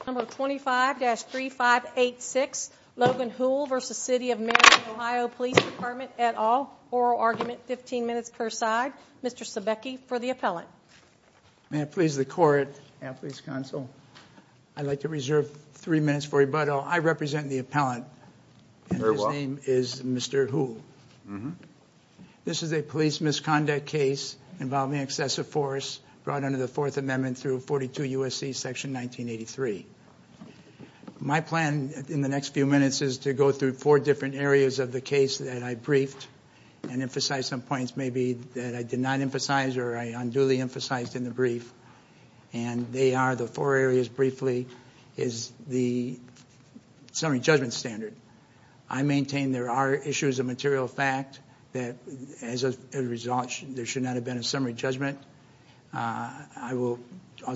25-3586 Logan Houle v. City of Marion OH Police Dept, et al. Oral argument, 15 minutes per side. Mr. Sebecki for the appellant. May it please the court and please counsel, I'd like to reserve 3 minutes for rebuttal. I represent the appellant and his name is Mr. Houle. This is a police misconduct case involving excessive force brought under the 4th Amendment through 42 U.S.C. section 1983. My plan in the next few minutes is to go through 4 different areas of the case that I briefed and emphasize some points maybe that I did not emphasize or I unduly emphasized in the brief. And they are the 4 areas briefly is the summary judgment standard. I maintain there are issues of material fact that as a result there should not have been a summary judgment. I will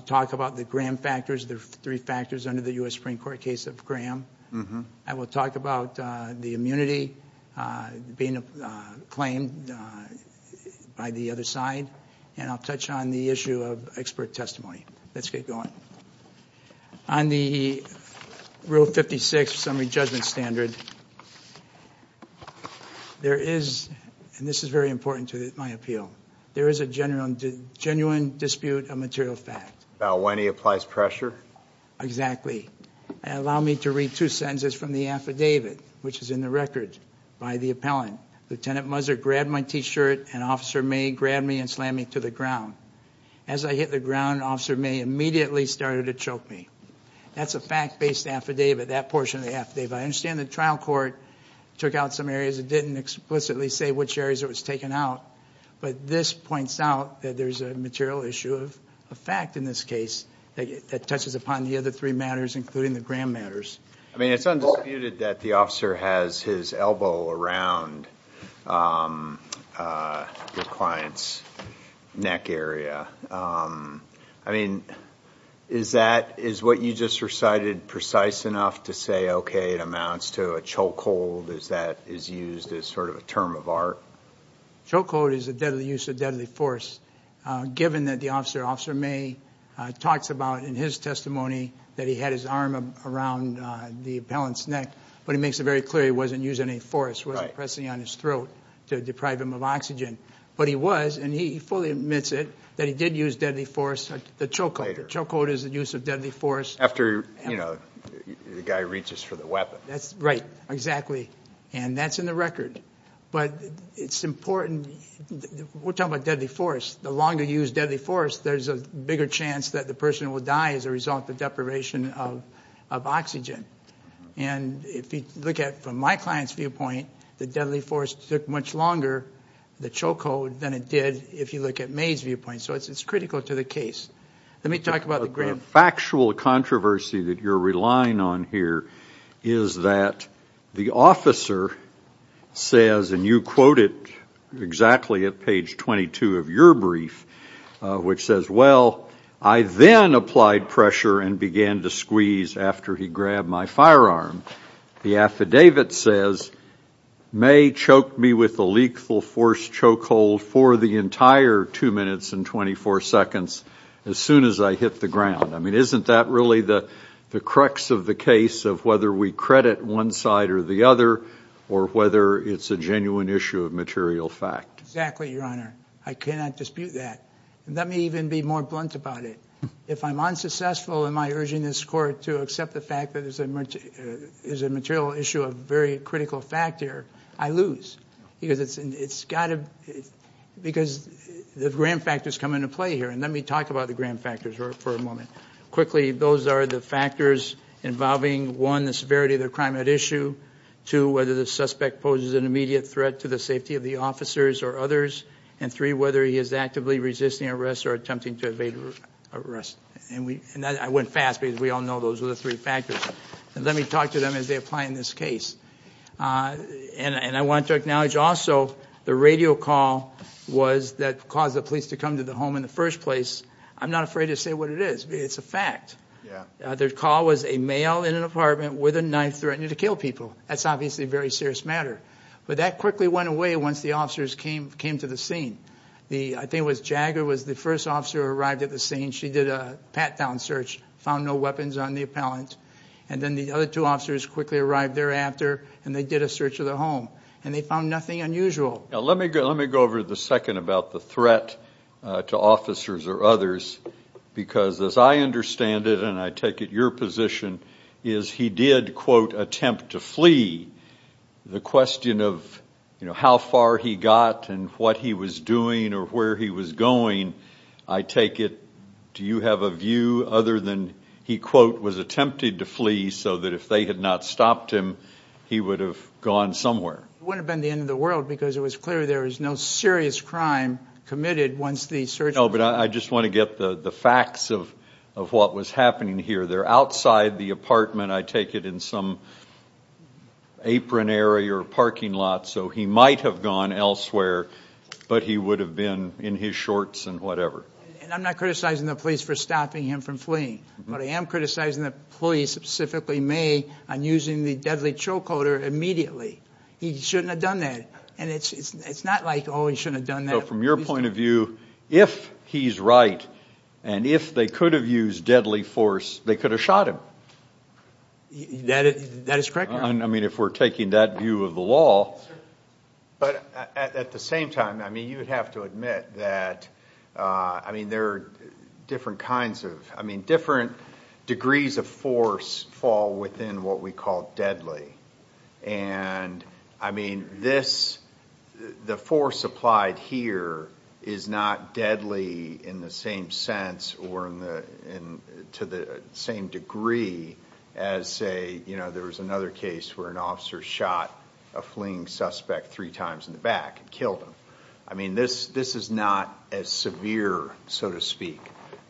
talk about the Graham factors, the 3 factors under the U.S. Supreme Court case of Graham. I will talk about the immunity being claimed by the other side. And I'll touch on the issue of expert testimony. Let's get going. On the Rule 56 summary judgment standard, there is, and this is very important to my appeal, there is a genuine dispute of material fact. About when he applies pressure? Exactly. Allow me to read 2 sentences from the affidavit which is in the record by the appellant. Lieutenant Muzzer grabbed my t-shirt and Officer May grabbed me and slammed me to the ground. As I hit the ground, Officer May immediately started to choke me. That's a fact-based affidavit, that portion of the affidavit. I understand the trial court took out some areas and didn't explicitly say which areas it was taken out. But this points out that there is a material issue of fact in this case that touches upon the other 3 matters including the Graham matters. I mean, it's undisputed that the officer has his elbow around the client's neck area. I mean, is that, is what you just recited precise enough to say, okay, it amounts to a choke hold? Is that, is used as sort of a term of art? Choke hold is a deadly use of deadly force, given that the officer, Officer May, talks about in his testimony that he had his arm around the appellant's neck. But he makes it very clear he wasn't using any force, wasn't pressing on his throat to deprive him of oxygen. But he was, and he fully admits it, that he did use deadly force, the choke hold. The choke hold is the use of deadly force. After, you know, the guy reaches for the weapon. That's right, exactly. And that's in the record. But it's important, we're talking about deadly force. The longer you use deadly force, there's a bigger chance that the person will die as a result of deprivation of oxygen. And if you look at it from my client's viewpoint, the deadly force took much longer, the choke hold, than it did if you look at May's viewpoint. So it's critical to the case. Let me talk about the Graham. The factual controversy that you're relying on here is that the officer says, and you quote it exactly at page 22 of your brief, which says, well, I then applied pressure and began to squeeze after he grabbed my firearm. The affidavit says, May choked me with a lethal force choke hold for the entire two minutes and 24 seconds as soon as I hit the ground. I mean, isn't that really the crux of the case of whether we credit one side or the other or whether it's a genuine issue of material fact? Exactly, Your Honor. I cannot dispute that. Let me even be more blunt about it. If I'm unsuccessful in my urging this court to accept the fact that there's a material issue of very critical fact here, I lose. Because the Graham factors come into play here. And let me talk about the Graham factors for a moment. Quickly, those are the factors involving, one, the severity of the crime at issue, two, whether the suspect poses an immediate threat to the safety of the officers or others, and three, whether he is actively resisting arrest or attempting to evade arrest. And I went fast because we all know those are the three factors. And let me talk to them as they apply in this case. And I want to acknowledge also the radio call that caused the police to come to the home in the first place. I'm not afraid to say what it is. It's a fact. Their call was a male in an apartment with a knife threatening to kill people. That's obviously a very serious matter. But that quickly went away once the officers came to the scene. I think it was Jagger was the first officer who arrived at the scene. She did a pat-down search, found no weapons on the appellant. And then the other two officers quickly arrived thereafter, and they did a search of the home. And they found nothing unusual. Let me go over the second about the threat to officers or others because, as I understand it, and I take it your position, is he did, quote, attempt to flee. The question of how far he got and what he was doing or where he was going, I take it, do you have a view other than he, quote, was attempted to flee so that if they had not stopped him, he would have gone somewhere. It wouldn't have been the end of the world because it was clear there was no serious crime committed once the search. No, but I just want to get the facts of what was happening here. They're outside the apartment. I take it in some apron area or parking lot. So he might have gone elsewhere, but he would have been in his shorts and whatever. And I'm not criticizing the police for stopping him from fleeing, but I am criticizing the police, specifically me, on using the deadly choke holder immediately. He shouldn't have done that. And it's not like, oh, he shouldn't have done that. So from your point of view, if he's right and if they could have used deadly force, they could have shot him. That is correct. I mean, if we're taking that view of the law. But at the same time, I mean, you would have to admit that, I mean, there are different kinds of, I mean, different degrees of force fall within what we call deadly. And I mean, this, the force applied here is not deadly in the same sense or to the same degree as, say, you know, there was another case where an officer shot a fleeing suspect three times in the back and killed him. I mean, this is not as severe, so to speak,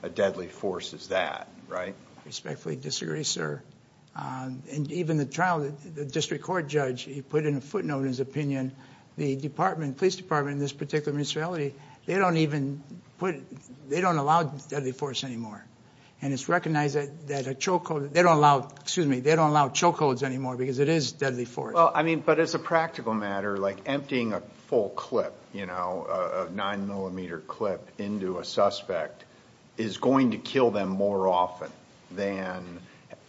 a deadly force as that, right? I respectfully disagree, sir. And even the trial, the district court judge, he put in a footnote in his opinion, the department, police department in this particular municipality, they don't even put, they don't allow deadly force anymore. And it's recognized that a choke hold, they don't allow, excuse me, they don't allow choke holds anymore because it is deadly force. Well, I mean, but as a practical matter, like emptying a full clip, you know, a nine millimeter clip into a suspect is going to kill them more often than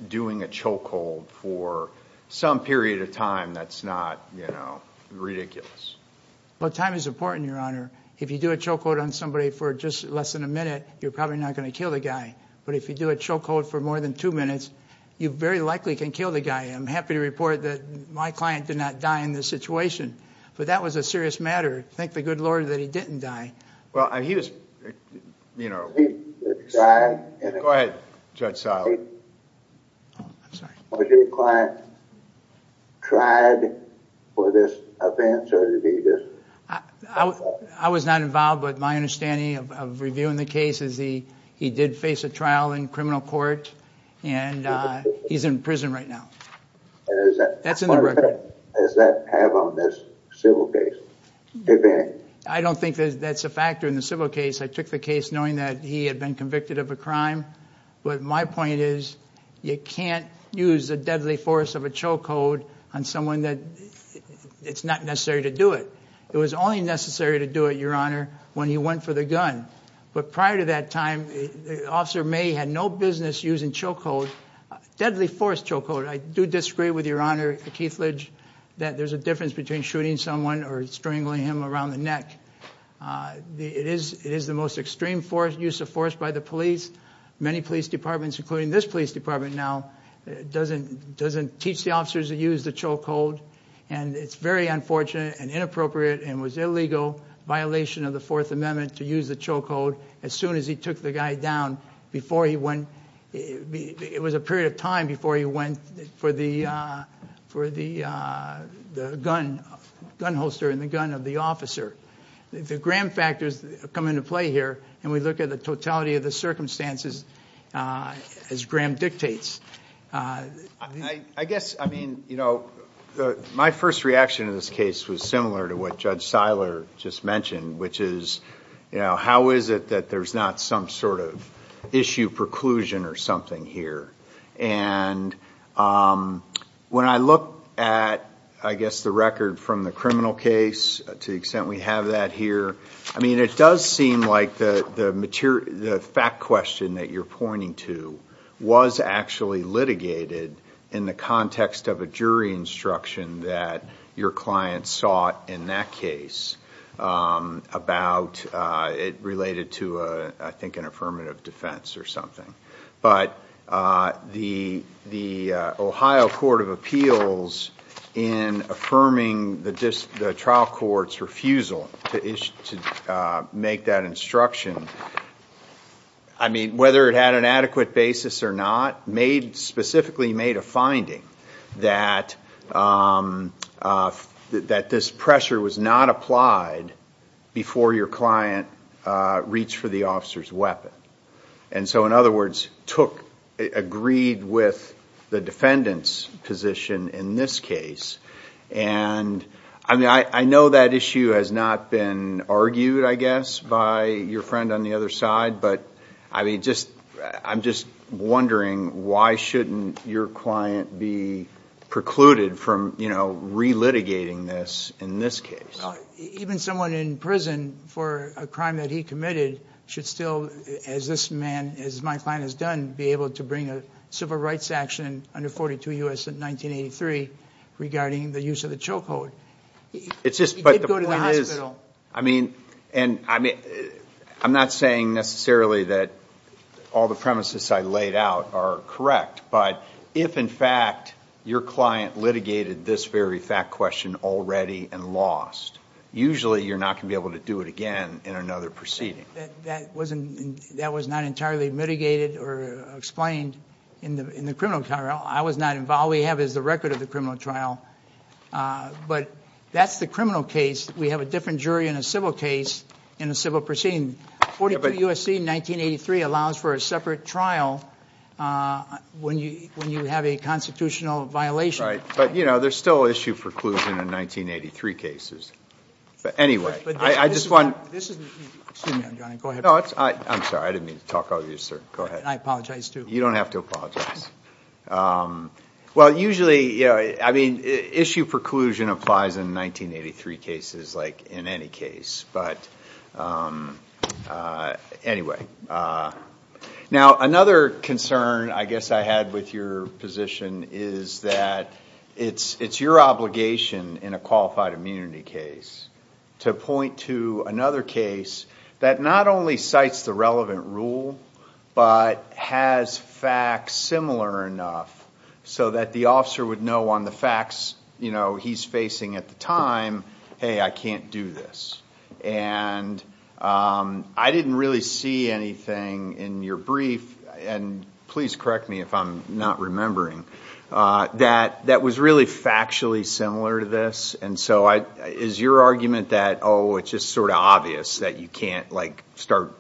doing a choke hold for some period of time that's not, you know, ridiculous. Well, time is important, Your Honor. If you do a choke hold on somebody for just less than a minute, you're probably not going to kill the guy. But if you do a choke hold for more than two minutes, you very likely can kill the guy. I'm happy to report that my client did not die in this situation, but that was a serious matter. Thank the good Lord that he didn't die. Well, he was, you know... He died in a... Go ahead, Judge Seiler. I'm sorry. Was your client tried for this offense or did he just... I was not involved, but my understanding of reviewing the case is he did face a trial in criminal court and he's in prison right now. That's in the record. What impact does that have on this civil case? I don't think that's a factor in the civil case. I took the case knowing that he had been convicted of a crime. But my point is you can't use the deadly force of a choke hold on someone that... It's not necessary to do it. It was only necessary to do it, Your Honor, when he went for the gun. But prior to that time, Officer May had no business using choke hold, deadly force choke hold. I do disagree with Your Honor Keithledge that there's a difference between shooting someone or strangling him around the neck. It is the most extreme use of force by the police. Many police departments, including this police department now, doesn't teach the officers to use the choke hold. And it's very unfortunate and inappropriate and was illegal, violation of the Fourth Amendment, to use the choke hold as soon as he took the guy down. It was a period of time before he went for the gun holster and the gun of the officer. The Graham factors come into play here, and we look at the totality of the circumstances as Graham dictates. My first reaction to this case was similar to what Judge Seiler just mentioned, which is, you know, how is it that there's not some sort of issue, preclusion or something here? And when I look at, I guess, the record from the criminal case, to the extent we have that here, I mean, it does seem like the fact question that you're pointing to was actually litigated in the context of a jury instruction that your client sought in that case, about it related to, I think, an affirmative defense or something. But the Ohio Court of Appeals, in affirming the trial court's refusal to make that instruction, I mean, whether it had an adequate basis or not, specifically made a finding that this pressure was not applied before your client reached for the officer's weapon. And so, in other words, agreed with the defendant's position in this case. I mean, I know that issue has not been argued, I guess, by your friend on the other side, but I'm just wondering why shouldn't your client be precluded from, you know, relitigating this in this case? Even someone in prison for a crime that he committed should still, as this man, as my client has done, be able to bring a civil rights action under 42 U.S. in 1983 regarding the use of the chokehold. He did go to the hospital. I mean, I'm not saying necessarily that all the premises I laid out are correct, but if, in fact, your client litigated this very fact question already and lost, usually you're not going to be able to do it again in another proceeding. That was not entirely mitigated or explained in the criminal trial. I was not involved. All we have is the record of the criminal trial. But that's the criminal case. We have a different jury in a civil case in a civil proceeding. 42 U.S.C. in 1983 allows for a separate trial when you have a constitutional violation. Right, but, you know, there's still issue preclusion in 1983 cases. But anyway, I just want to. Excuse me, Your Honor, go ahead. No, I'm sorry. I didn't mean to talk over you, sir. Go ahead. I apologize, too. You don't have to apologize. Well, usually, you know, I mean, issue preclusion applies in 1983 cases like in any case. But anyway. Now, another concern I guess I had with your position is that it's your obligation in a qualified immunity case to point to another case that not only cites the relevant rule, but has facts similar enough so that the officer would know on the facts, you know, he's facing at the time, hey, I can't do this. And I didn't really see anything in your brief, and please correct me if I'm not remembering, that was really factually similar to this. And so is your argument that, oh, it's just sort of obvious that you can't, like, start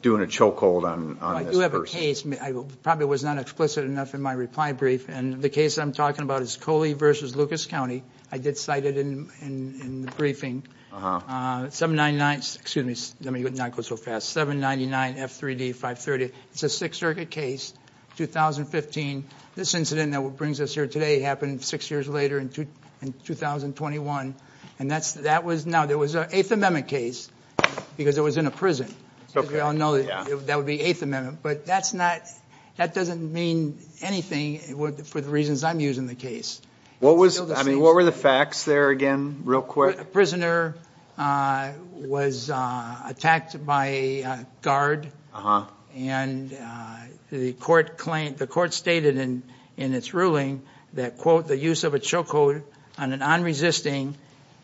doing a choke hold on this person? Well, I do have a case. I probably was not explicit enough in my reply brief. And the case I'm talking about is Coley v. Lucas County. I did cite it in the briefing. 799, excuse me, let me not go so fast, 799 F3D 530. It's a Sixth Circuit case, 2015. This incident that brings us here today happened six years later in 2021. And that was, now, there was an Eighth Amendment case because it was in a prison. As we all know, that would be Eighth Amendment. But that's not, that doesn't mean anything for the reasons I'm using the case. I mean, what were the facts there again, real quick? A prisoner was attacked by a guard. And the court stated in its ruling that, quote, the use of a choke hold on an unresisting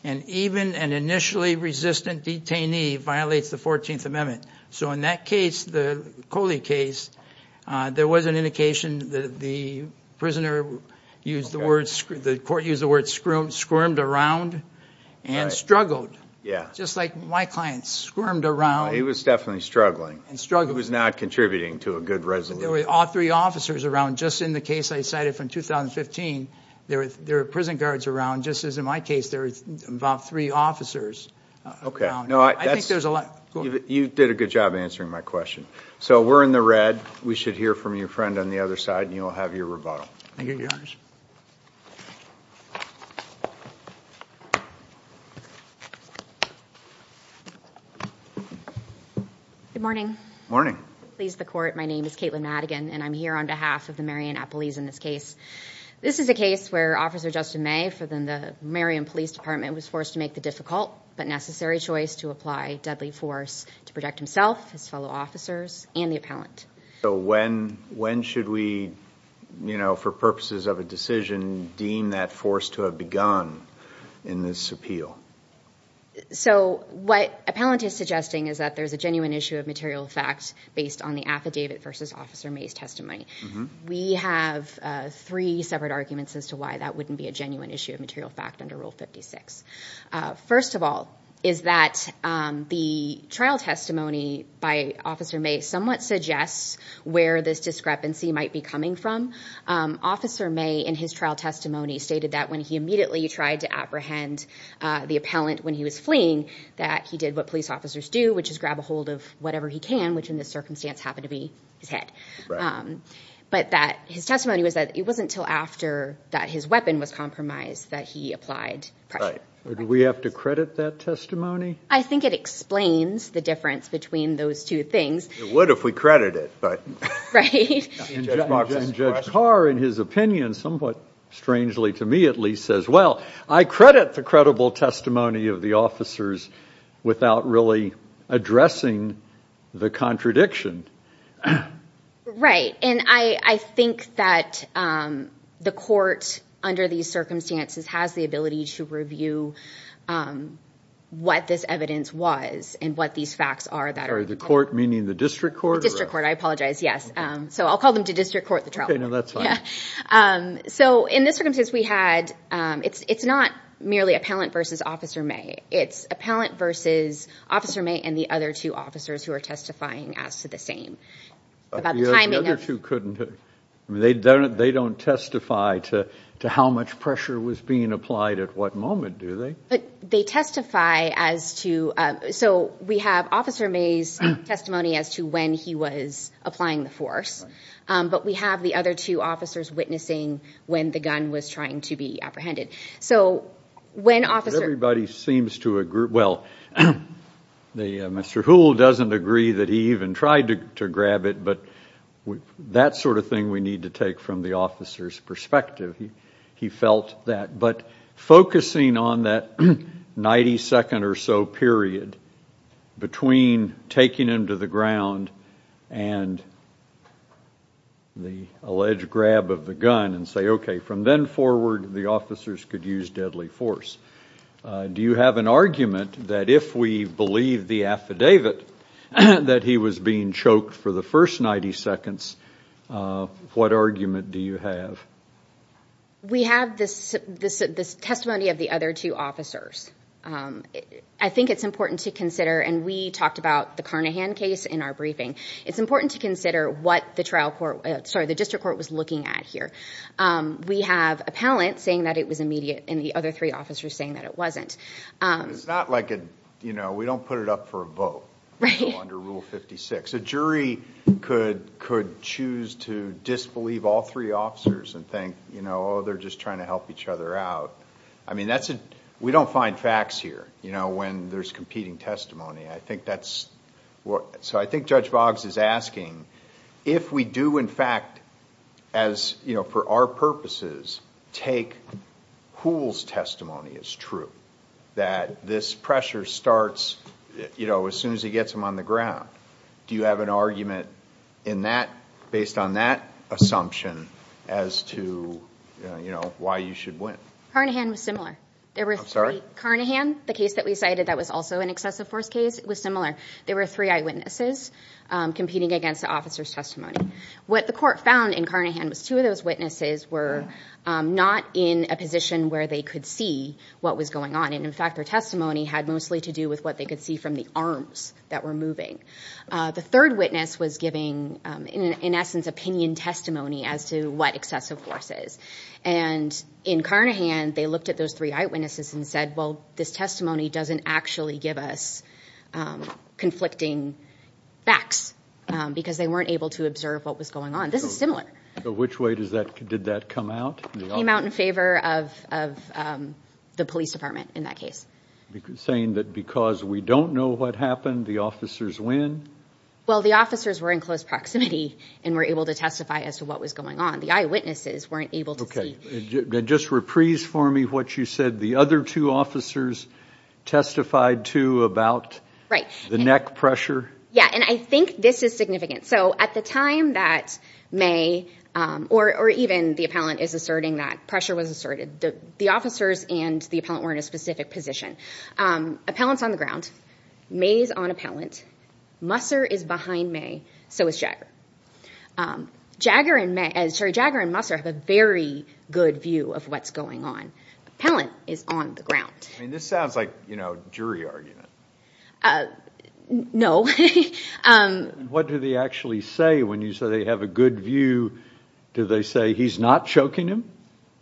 and even an initially resistant detainee violates the 14th Amendment. So in that case, the Coley case, there was an indication that the prisoner used the word, squirmed around and struggled. Yeah. Just like my client squirmed around. He was definitely struggling. And struggling. He was not contributing to a good resolution. There were all three officers around. Just in the case I cited from 2015, there were prison guards around. Just as in my case, there were about three officers around. Okay. I think there's a lot. You did a good job answering my question. So we're in the red. We should hear from your friend on the other side, and you'll have your rebuttal. Thank you, Your Honor. Good morning. Morning. Please, the court. My name is Kaitlin Madigan, and I'm here on behalf of the Marion Appellees in this case. This is a case where Officer Justin May for the Marion Police Department was forced to make the difficult but necessary choice to apply deadly force to protect himself, his fellow officers, and the appellant. So when should we, you know, for purposes of a decision, deem that force to have begun in this appeal? So what appellant is suggesting is that there's a genuine issue of material facts based on the affidavit versus Officer May's testimony. We have three separate arguments as to why that wouldn't be a genuine issue of material fact under Rule 56. First of all is that the trial testimony by Officer May somewhat suggests where this discrepancy might be coming from. Officer May, in his trial testimony, stated that when he immediately tried to apprehend the appellant when he was fleeing, that he did what police officers do, which is grab a hold of whatever he can, which in this circumstance happened to be his head. Right. But that his testimony was that it wasn't until after that his weapon was Do we have to credit that testimony? I think it explains the difference between those two things. It would if we credit it, but... And Judge Carr, in his opinion, somewhat strangely to me at least, says, well, I credit the credible testimony of the officers without really addressing the contradiction. Right. And I think that the court, under these circumstances, has the ability to review what this evidence was and what these facts are that... Sorry, the court meaning the district court? The district court, I apologize, yes. So I'll call them to district court the trial. Okay, now that's fine. So in this circumstance we had, it's not merely appellant versus Officer May. It's appellant versus Officer May and the other two officers who are testifying as to the same. The other two couldn't have... They don't testify to how much pressure was being applied at what moment, do they? They testify as to... So we have Officer May's testimony as to when he was applying the force, but we have the other two officers witnessing when the gun was trying to be apprehended. So when Officer... Everybody seems to agree... Well, Mr. Houle doesn't agree that he even tried to grab it, but that sort of thing we need to take from the officer's perspective. He felt that. But focusing on that 90 second or so period between taking him to the ground and the alleged grab of the gun and say, okay, from then forward the officers could use deadly force. Do you have an argument that if we believe the affidavit that he was being choked for the first 90 seconds, what argument do you have? We have this testimony of the other two officers. I think it's important to consider, and we talked about the Carnahan case in our briefing, it's important to consider what the district court was looking at here. We have appellant saying that it was immediate and the other three officers saying that it wasn't. It's not like we don't put it up for a vote under Rule 56. A jury could choose to disbelieve all three officers and think, oh, they're just trying to help each other out. I mean, we don't find facts here when there's competing testimony. I think that's what... So I think Judge Boggs is asking if we do, in fact, for our purposes, take Houle's testimony as true, that this pressure starts as soon as he gets him on the ground. Do you have an argument based on that assumption as to why you should win? Carnahan was similar. I'm sorry? Carnahan, the case that we cited that was also an excessive force case, was similar. There were three eyewitnesses competing against the officer's testimony. What the court found in Carnahan was two of those witnesses were not in a position where they could see what was going on. And, in fact, their testimony had mostly to do with what they could see from the arms that were moving. The third witness was giving, in essence, opinion testimony as to what excessive force is. And in Carnahan, they looked at those three eyewitnesses and said, well, this testimony doesn't actually give us conflicting facts because they weren't able to observe what was going on. This is similar. Which way did that come out? It came out in favor of the police department in that case. You're saying that because we don't know what happened, the officers win? Well, the officers were in close proximity and were able to testify as to what was going on. The eyewitnesses weren't able to see. Just reprise for me what you said the other two officers testified to about the neck pressure. Yeah, and I think this is significant. So at the time that May, or even the appellant, is asserting that pressure was asserted, the officers and the appellant were in a specific position. Appellant's on the ground. May's on appellant. Musser is behind May. So is Jagger. Jagger and Musser have a very good view of what's going on. Appellant is on the ground. This sounds like a jury argument. No. What do they actually say when you say they have a good view? Do they say he's not choking him?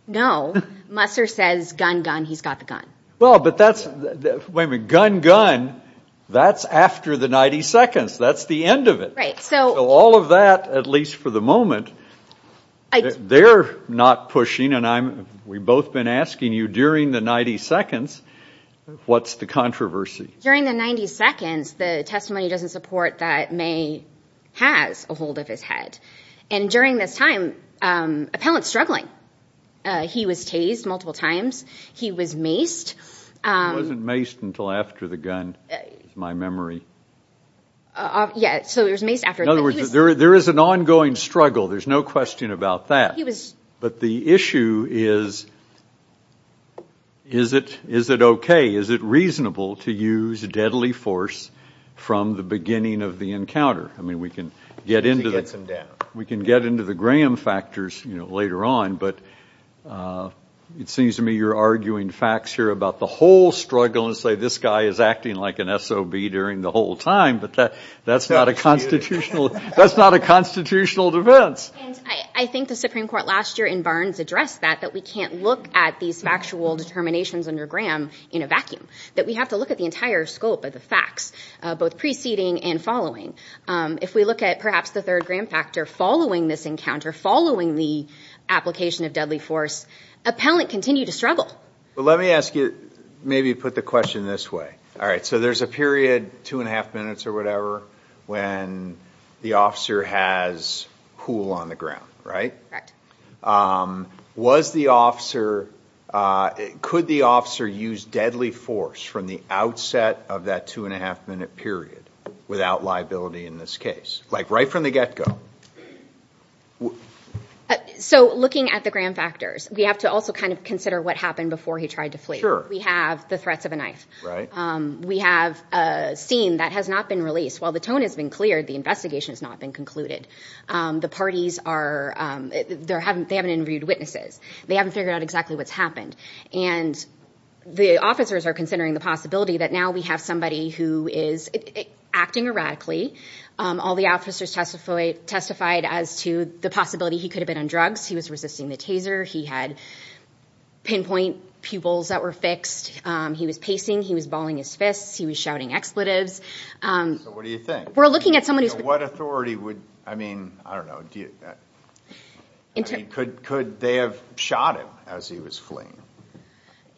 No. Musser says, gun, gun, he's got the gun. Well, but that's, wait a minute, gun, gun, that's after the 90 seconds. That's the end of it. So all of that, at least for the moment, they're not pushing, and we've both been asking you during the 90 seconds, what's the controversy? During the 90 seconds, the testimony doesn't support that May has a hold of his head. And during this time, appellant's struggling. He was tased multiple times. He was maced. He wasn't maced until after the gun, is my memory. Yeah, so he was maced after. In other words, there is an ongoing struggle. There's no question about that. But the issue is, is it okay, is it reasonable to use deadly force from the beginning of the encounter? I mean, we can get into the Graham factors later on, but it seems to me you're arguing facts here about the whole struggle and say this guy is acting like an SOB during the whole time, but that's not a constitutional defense. And I think the Supreme Court last year in Barnes addressed that, that we can't look at these factual determinations under Graham in a vacuum, that we have to look at the entire scope of the facts, both preceding and following. If we look at perhaps the third Graham factor following this encounter, following the application of deadly force, appellant continued to struggle. Well, let me ask you, maybe put the question this way. All right, so there's a period, two and a half minutes or whatever, when the officer has pool on the ground, right? Was the officer, could the officer use deadly force from the outset of that two and a half minute period without liability in this case, like right from the get-go? So looking at the Graham factors, we have to also kind of consider what happened before he tried to flee. Sure. We have the threats of a knife. Right. We have a scene that has not been released. While the tone has been cleared, the investigation has not been concluded. The parties are, they haven't interviewed witnesses. They haven't figured out exactly what's happened. And the officers are considering the possibility that now we have somebody who is acting erratically. All the officers testified as to the possibility he could have been on drugs. He was resisting the taser. He had pinpoint pupils that were fixed. He was pacing. He was balling his fists. He was shouting expletives. So what do you think? We're looking at someone who's been- So what authority would, I mean, I don't know, do you, could they have shot him as he was fleeing?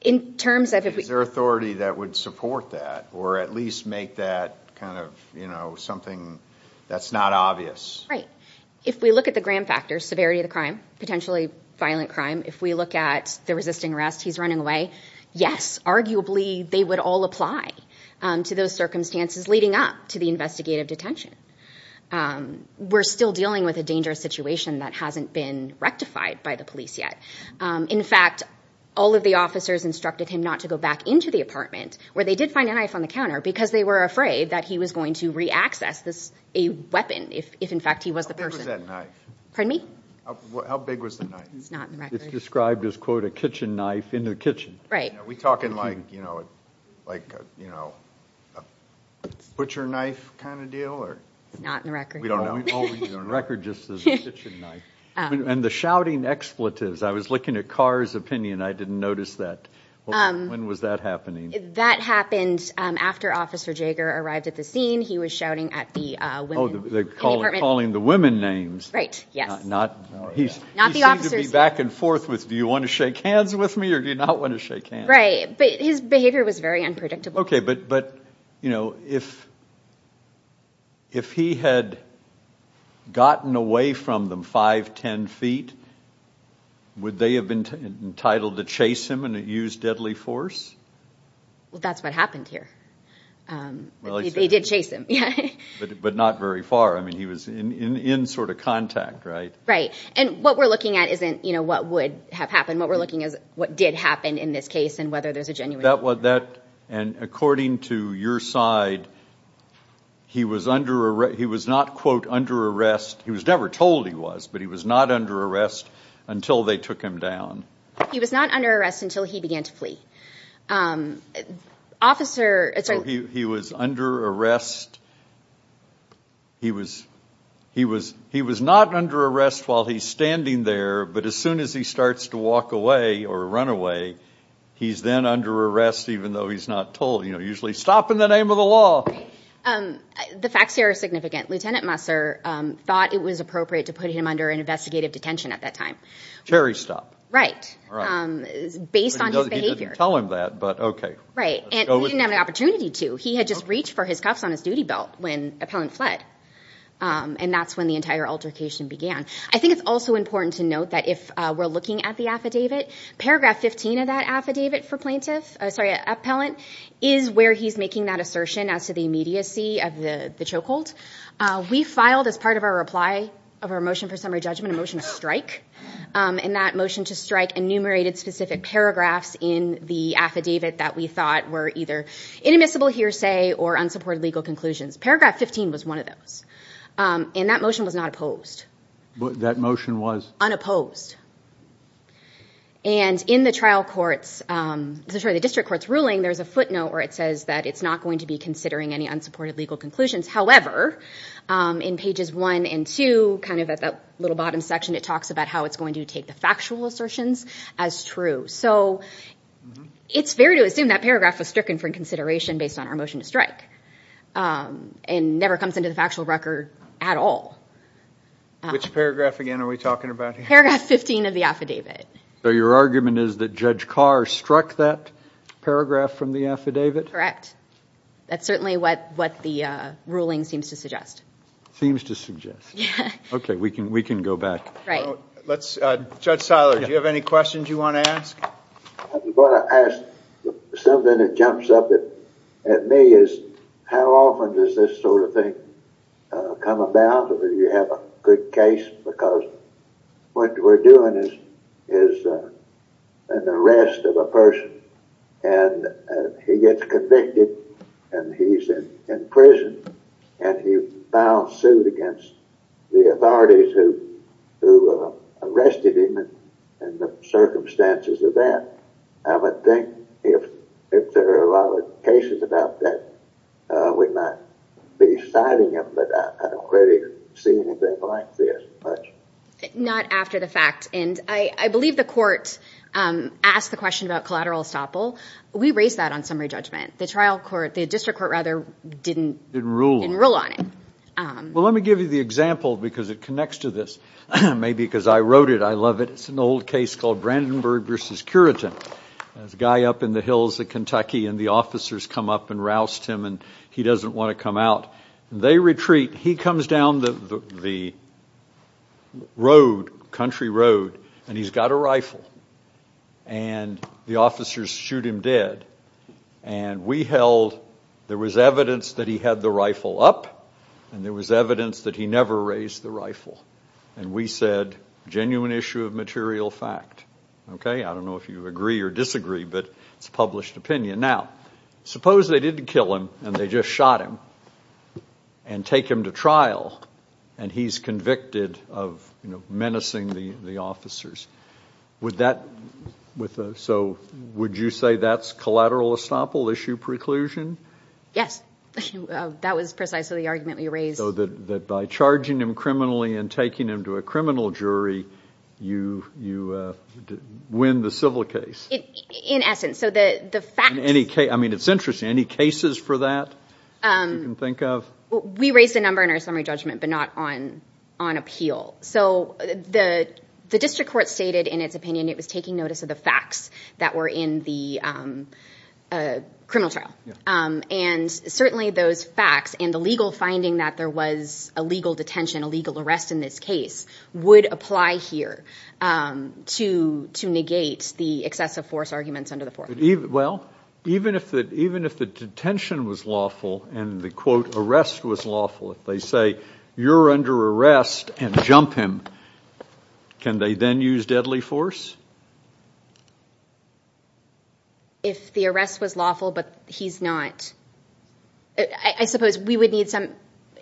In terms of if we- Is there authority that would support that or at least make that kind of, you know, something that's not obvious? Right. If we look at the Graham factors, severity of the crime, potentially violent crime, if we look at the resisting arrest, he's running away, yes, arguably they would all apply to those circumstances leading up to the investigative detention. We're still dealing with a dangerous situation that hasn't been rectified by the police yet. In fact, all of the officers instructed him not to go back into the apartment where they did find a knife on the counter because they were afraid that he was going to reaccess a weapon if, in fact, he was the person. How big was that knife? Pardon me? How big was the knife? It's not on the record. It's described as, quote, a kitchen knife in the kitchen. Right. Are we talking like, you know, a butcher knife kind of deal or- Not on the record. We don't know. We don't know. The record just says a kitchen knife. And the shouting expletives. I was looking at Carr's opinion. I didn't notice that. When was that happening? That happened after Officer Jaeger arrived at the scene. He was shouting at the women in the apartment. Oh, calling the women names. Right, yes. Not the officers. He seemed to be back and forth with, do you want to shake hands with me or do you not want to shake hands? Right, but his behavior was very unpredictable. Okay, but, you know, if he had gotten away from them 5, 10 feet, would they have been entitled to chase him and use deadly force? Well, that's what happened here. They did chase him, yeah. But not very far. I mean, he was in sort of contact, right? Right. And what we're looking at isn't, you know, what would have happened. What we're looking at is what did happen in this case and whether there's a genuine murder. And according to your side, he was not, quote, under arrest. He was never told he was, but he was not under arrest until they took him down. He was not under arrest until he began to flee. He was under arrest. He was not under arrest while he's standing there, but as soon as he starts to walk away or run away, he's then under arrest even though he's not told. You know, usually stop in the name of the law. The facts here are significant. Lieutenant Musser thought it was appropriate to put him under an investigative detention at that time. Cherry stop. Right, based on his behavior. Tell him that, but okay. Right, and he didn't have an opportunity to. He had just reached for his cuffs on his duty belt when Appellant fled, and that's when the entire altercation began. I think it's also important to note that if we're looking at the affidavit, paragraph 15 of that affidavit for plaintiff, sorry, Appellant, is where he's making that assertion as to the immediacy of the chokehold. We filed as part of our reply of our motion for summary judgment, a motion to strike, and that motion to strike enumerated specific paragraphs in the affidavit that we thought were either inadmissible hearsay or unsupported legal conclusions. Paragraph 15 was one of those. And that motion was not opposed. That motion was? And in the trial court's, sorry, the district court's ruling, there's a footnote where it says that it's not going to be considering any unsupported legal conclusions. However, in pages 1 and 2, kind of at that little bottom section, it talks about how it's going to take the factual assertions as true. So it's fair to assume that paragraph was stricken for consideration based on our motion to strike, and never comes into the factual record at all. Which paragraph again are we talking about here? Paragraph 15 of the affidavit. So your argument is that Judge Carr struck that paragraph from the affidavit? Correct. That's certainly what the ruling seems to suggest. Seems to suggest. Okay, we can go back. Judge Seiler, do you have any questions you want to ask? I'm going to ask something that jumps up at me is how often does this sort of thing come about? Do you have a good case? Because what we're doing is an arrest of a person, and he gets convicted, and he's in prison, and he filed suit against the authorities who arrested him and the circumstances of that. I would think if there are other cases about that, we might be citing them, but I don't really see anything like this much. Not after the fact. And I believe the court asked the question about collateral estoppel. We raised that on summary judgment. The district court didn't rule on it. Well, let me give you the example because it connects to this. Maybe because I wrote it, I love it. It's an old case called Brandenburg v. Curitan. There's a guy up in the hills of Kentucky, and the officers come up and roust him, and he doesn't want to come out. They retreat. He comes down the road, country road, and he's got a rifle, and the officers shoot him dead. And we held there was evidence that he had the rifle up, and there was evidence that he never raised the rifle. And we said, genuine issue of material fact. I don't know if you agree or disagree, but it's a published opinion. Now, suppose they didn't kill him and they just shot him and take him to trial, and he's convicted of menacing the officers. So would you say that's collateral estoppel issue preclusion? Yes. That was precisely the argument we raised. So that by charging him criminally and taking him to a criminal jury, you win the civil case. In essence. So the facts. I mean, it's interesting. Any cases for that you can think of? We raised a number in our summary judgment but not on appeal. So the district court stated in its opinion it was taking notice of the facts that were in the criminal trial. And certainly those facts and the legal finding that there was a legal detention, a legal arrest in this case, would apply here to negate the excessive force arguments under the fourth. Well, even if the detention was lawful and the, quote, arrest was lawful, if they say you're under arrest and jump him, can they then use deadly force? If the arrest was lawful but he's not. I suppose we would need some,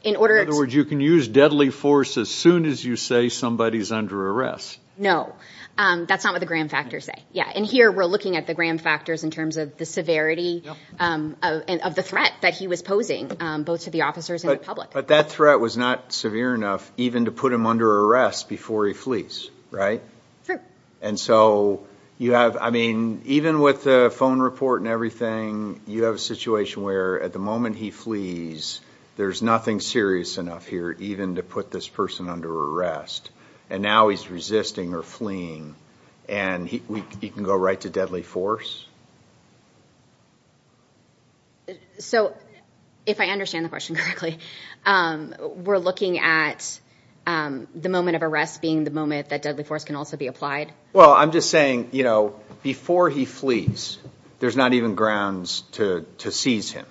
in order to. In other words, you can use deadly force as soon as you say somebody's under arrest. No. That's not what the gram factors say. Yeah. And here we're looking at the gram factors in terms of the severity of the threat that he was posing both to the officers and the public. But that threat was not severe enough even to put him under arrest before he flees, right? True. And so you have, I mean, even with the phone report and everything, you have a situation where at the moment he flees, there's nothing serious enough here even to put this person under arrest. And now he's resisting or fleeing and he can go right to deadly force? So if I understand the question correctly, we're looking at the moment of arrest being the moment that deadly force can also be applied? Well, I'm just saying, you know, before he flees, there's not even grounds to seize him.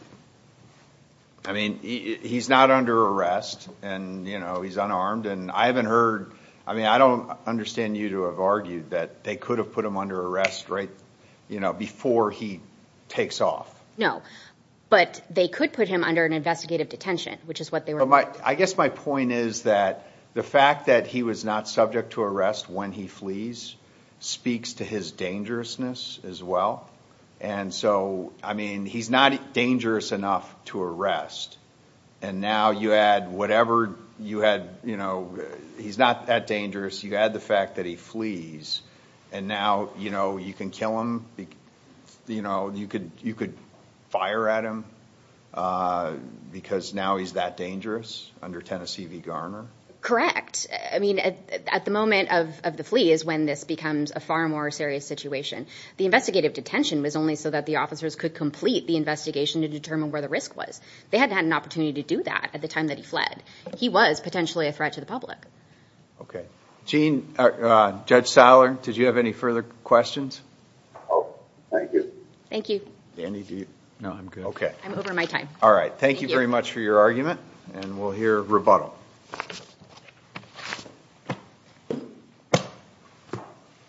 I mean, he's not under arrest and, you know, he's unarmed. And I haven't heard, I mean, I don't understand you to have argued that they could have put him under arrest right before he takes off. No, but they could put him under an investigative detention, which is what they were. I guess my point is that the fact that he was not subject to arrest when he flees speaks to his dangerousness as well. And so, I mean, he's not dangerous enough to arrest. And now you add whatever you had, you know, he's not that dangerous. You add the fact that he flees and now, you know, you can kill him. You know, you could you could fire at him because now he's that dangerous under Tennessee v. Garner. Correct. I mean, at the moment of the flee is when this becomes a far more serious situation. The investigative detention was only so that the officers could complete the investigation to determine where the risk was. They hadn't had an opportunity to do that at the time that he fled. He was potentially a threat to the public. OK. Gene, Judge Saller, did you have any further questions? Oh, thank you. Thank you. No, I'm good. OK. I'm over my time. All right. Thank you very much for your argument. And we'll hear rebuttal.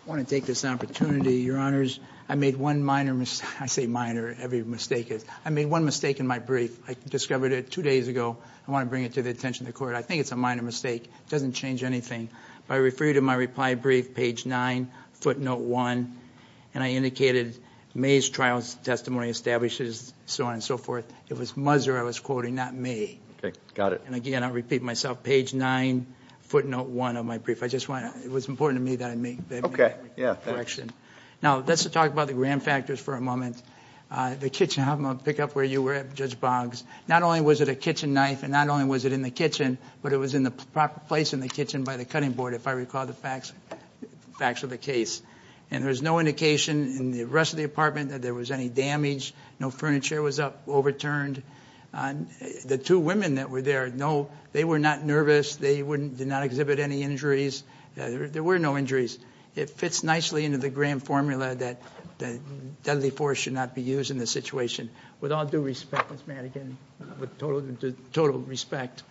I want to take this opportunity, Your Honors. I made one minor mistake. I say minor. Every mistake is. I made one mistake in my brief. I discovered it two days ago. I want to bring it to the attention of the court. I think it's a minor mistake. It doesn't change anything. I refer you to my reply brief, page nine, footnote one. And I indicated May's trial testimony establishes so on and so forth. It was Muzer I was quoting, not me. OK, got it. And again, I repeat myself, page nine, footnote one of my brief. I just want it was important to me that I make that correction. Now, let's talk about the grand factors for a moment. The kitchen. I'm going to pick up where you were at, Judge Boggs. Not only was it a kitchen knife and not only was it in the kitchen, but it was in the proper place in the kitchen by the cutting board. If I recall the facts, facts of the case. And there was no indication in the rest of the apartment that there was any damage. No furniture was up, overturned. The two women that were there. No, they were not nervous. They wouldn't do not exhibit any injuries. There were no injuries. It fits nicely into the grand formula that deadly force should not be used in this situation. With all due respect, Ms. Madigan, with total respect,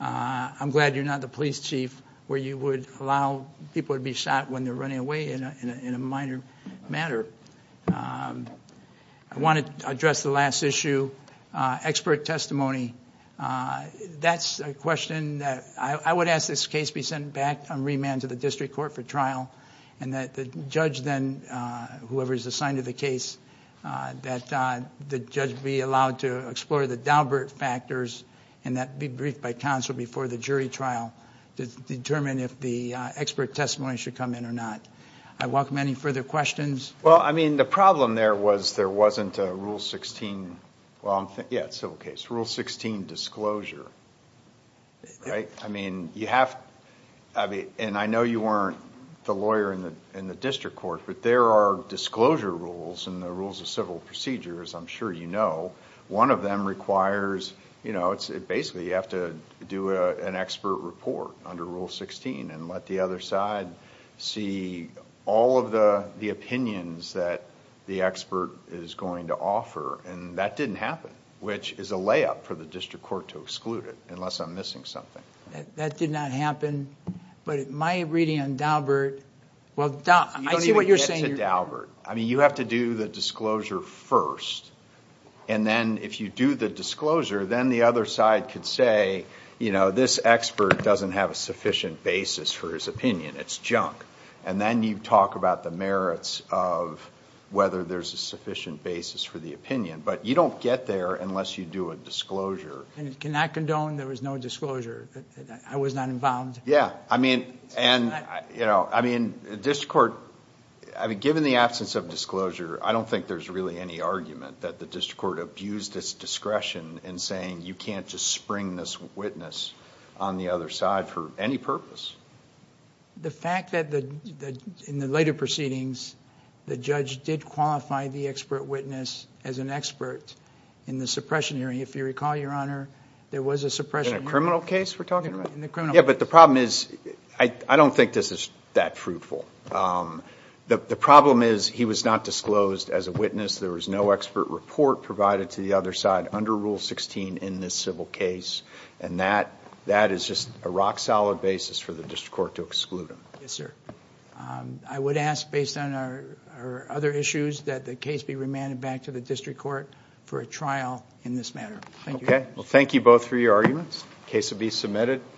I'm glad you're not the police chief where you would allow people to be shot when they're running away in a minor matter. I want to address the last issue, expert testimony. That's a question that I would ask this case be sent back on remand to the district court for trial and that the judge then, whoever is assigned to the case, that the judge be allowed to explore the Daubert factors and that be briefed by counsel before the jury trial to determine if the expert testimony should come in or not. I welcome any further questions. Well, I mean, the problem there was there wasn't a Rule 16. Yeah, it's a civil case. Rule 16 disclosure, right? I mean, you have... and I know you weren't the lawyer in the district court, but there are disclosure rules in the rules of civil procedure, as I'm sure you know. One of them requires... basically, you have to do an expert report under Rule 16 and let the other side see all of the opinions that the expert is going to offer. That didn't happen, which is a layup for the district court to exclude it, unless I'm missing something. That did not happen, but my reading on Daubert... Well, I see what you're saying. You don't even get to Daubert. I mean, you have to do the disclosure first. Then, if you do the disclosure, then the other side could say, you know, this expert doesn't have a sufficient basis for his opinion. It's junk. Then you talk about the merits of whether there's a sufficient basis for the opinion, but you don't get there unless you do a disclosure. Can I condone there was no disclosure? I was not involved. Yeah. I mean, district court... I mean, given the absence of disclosure, I don't think there's really any argument that the district court abused its discretion in saying, you can't just spring this witness on the other side for any purpose. The fact that in the later proceedings, the judge did qualify the expert witness as an expert in the suppression hearing. If you recall, Your Honor, there was a suppression hearing... In a criminal case we're talking about? In the criminal case. Yeah, but the problem is, I don't think this is that fruitful. The problem is, he was not disclosed as a witness. There was no expert report provided to the other side under Rule 16 in this civil case, and that is just a rock-solid basis for the district court to exclude him. Yes, sir. I would ask, based on our other issues, that the case be remanded back to the district court for a trial in this matter. Thank you. Well, thank you both for your arguments. The case will be submitted.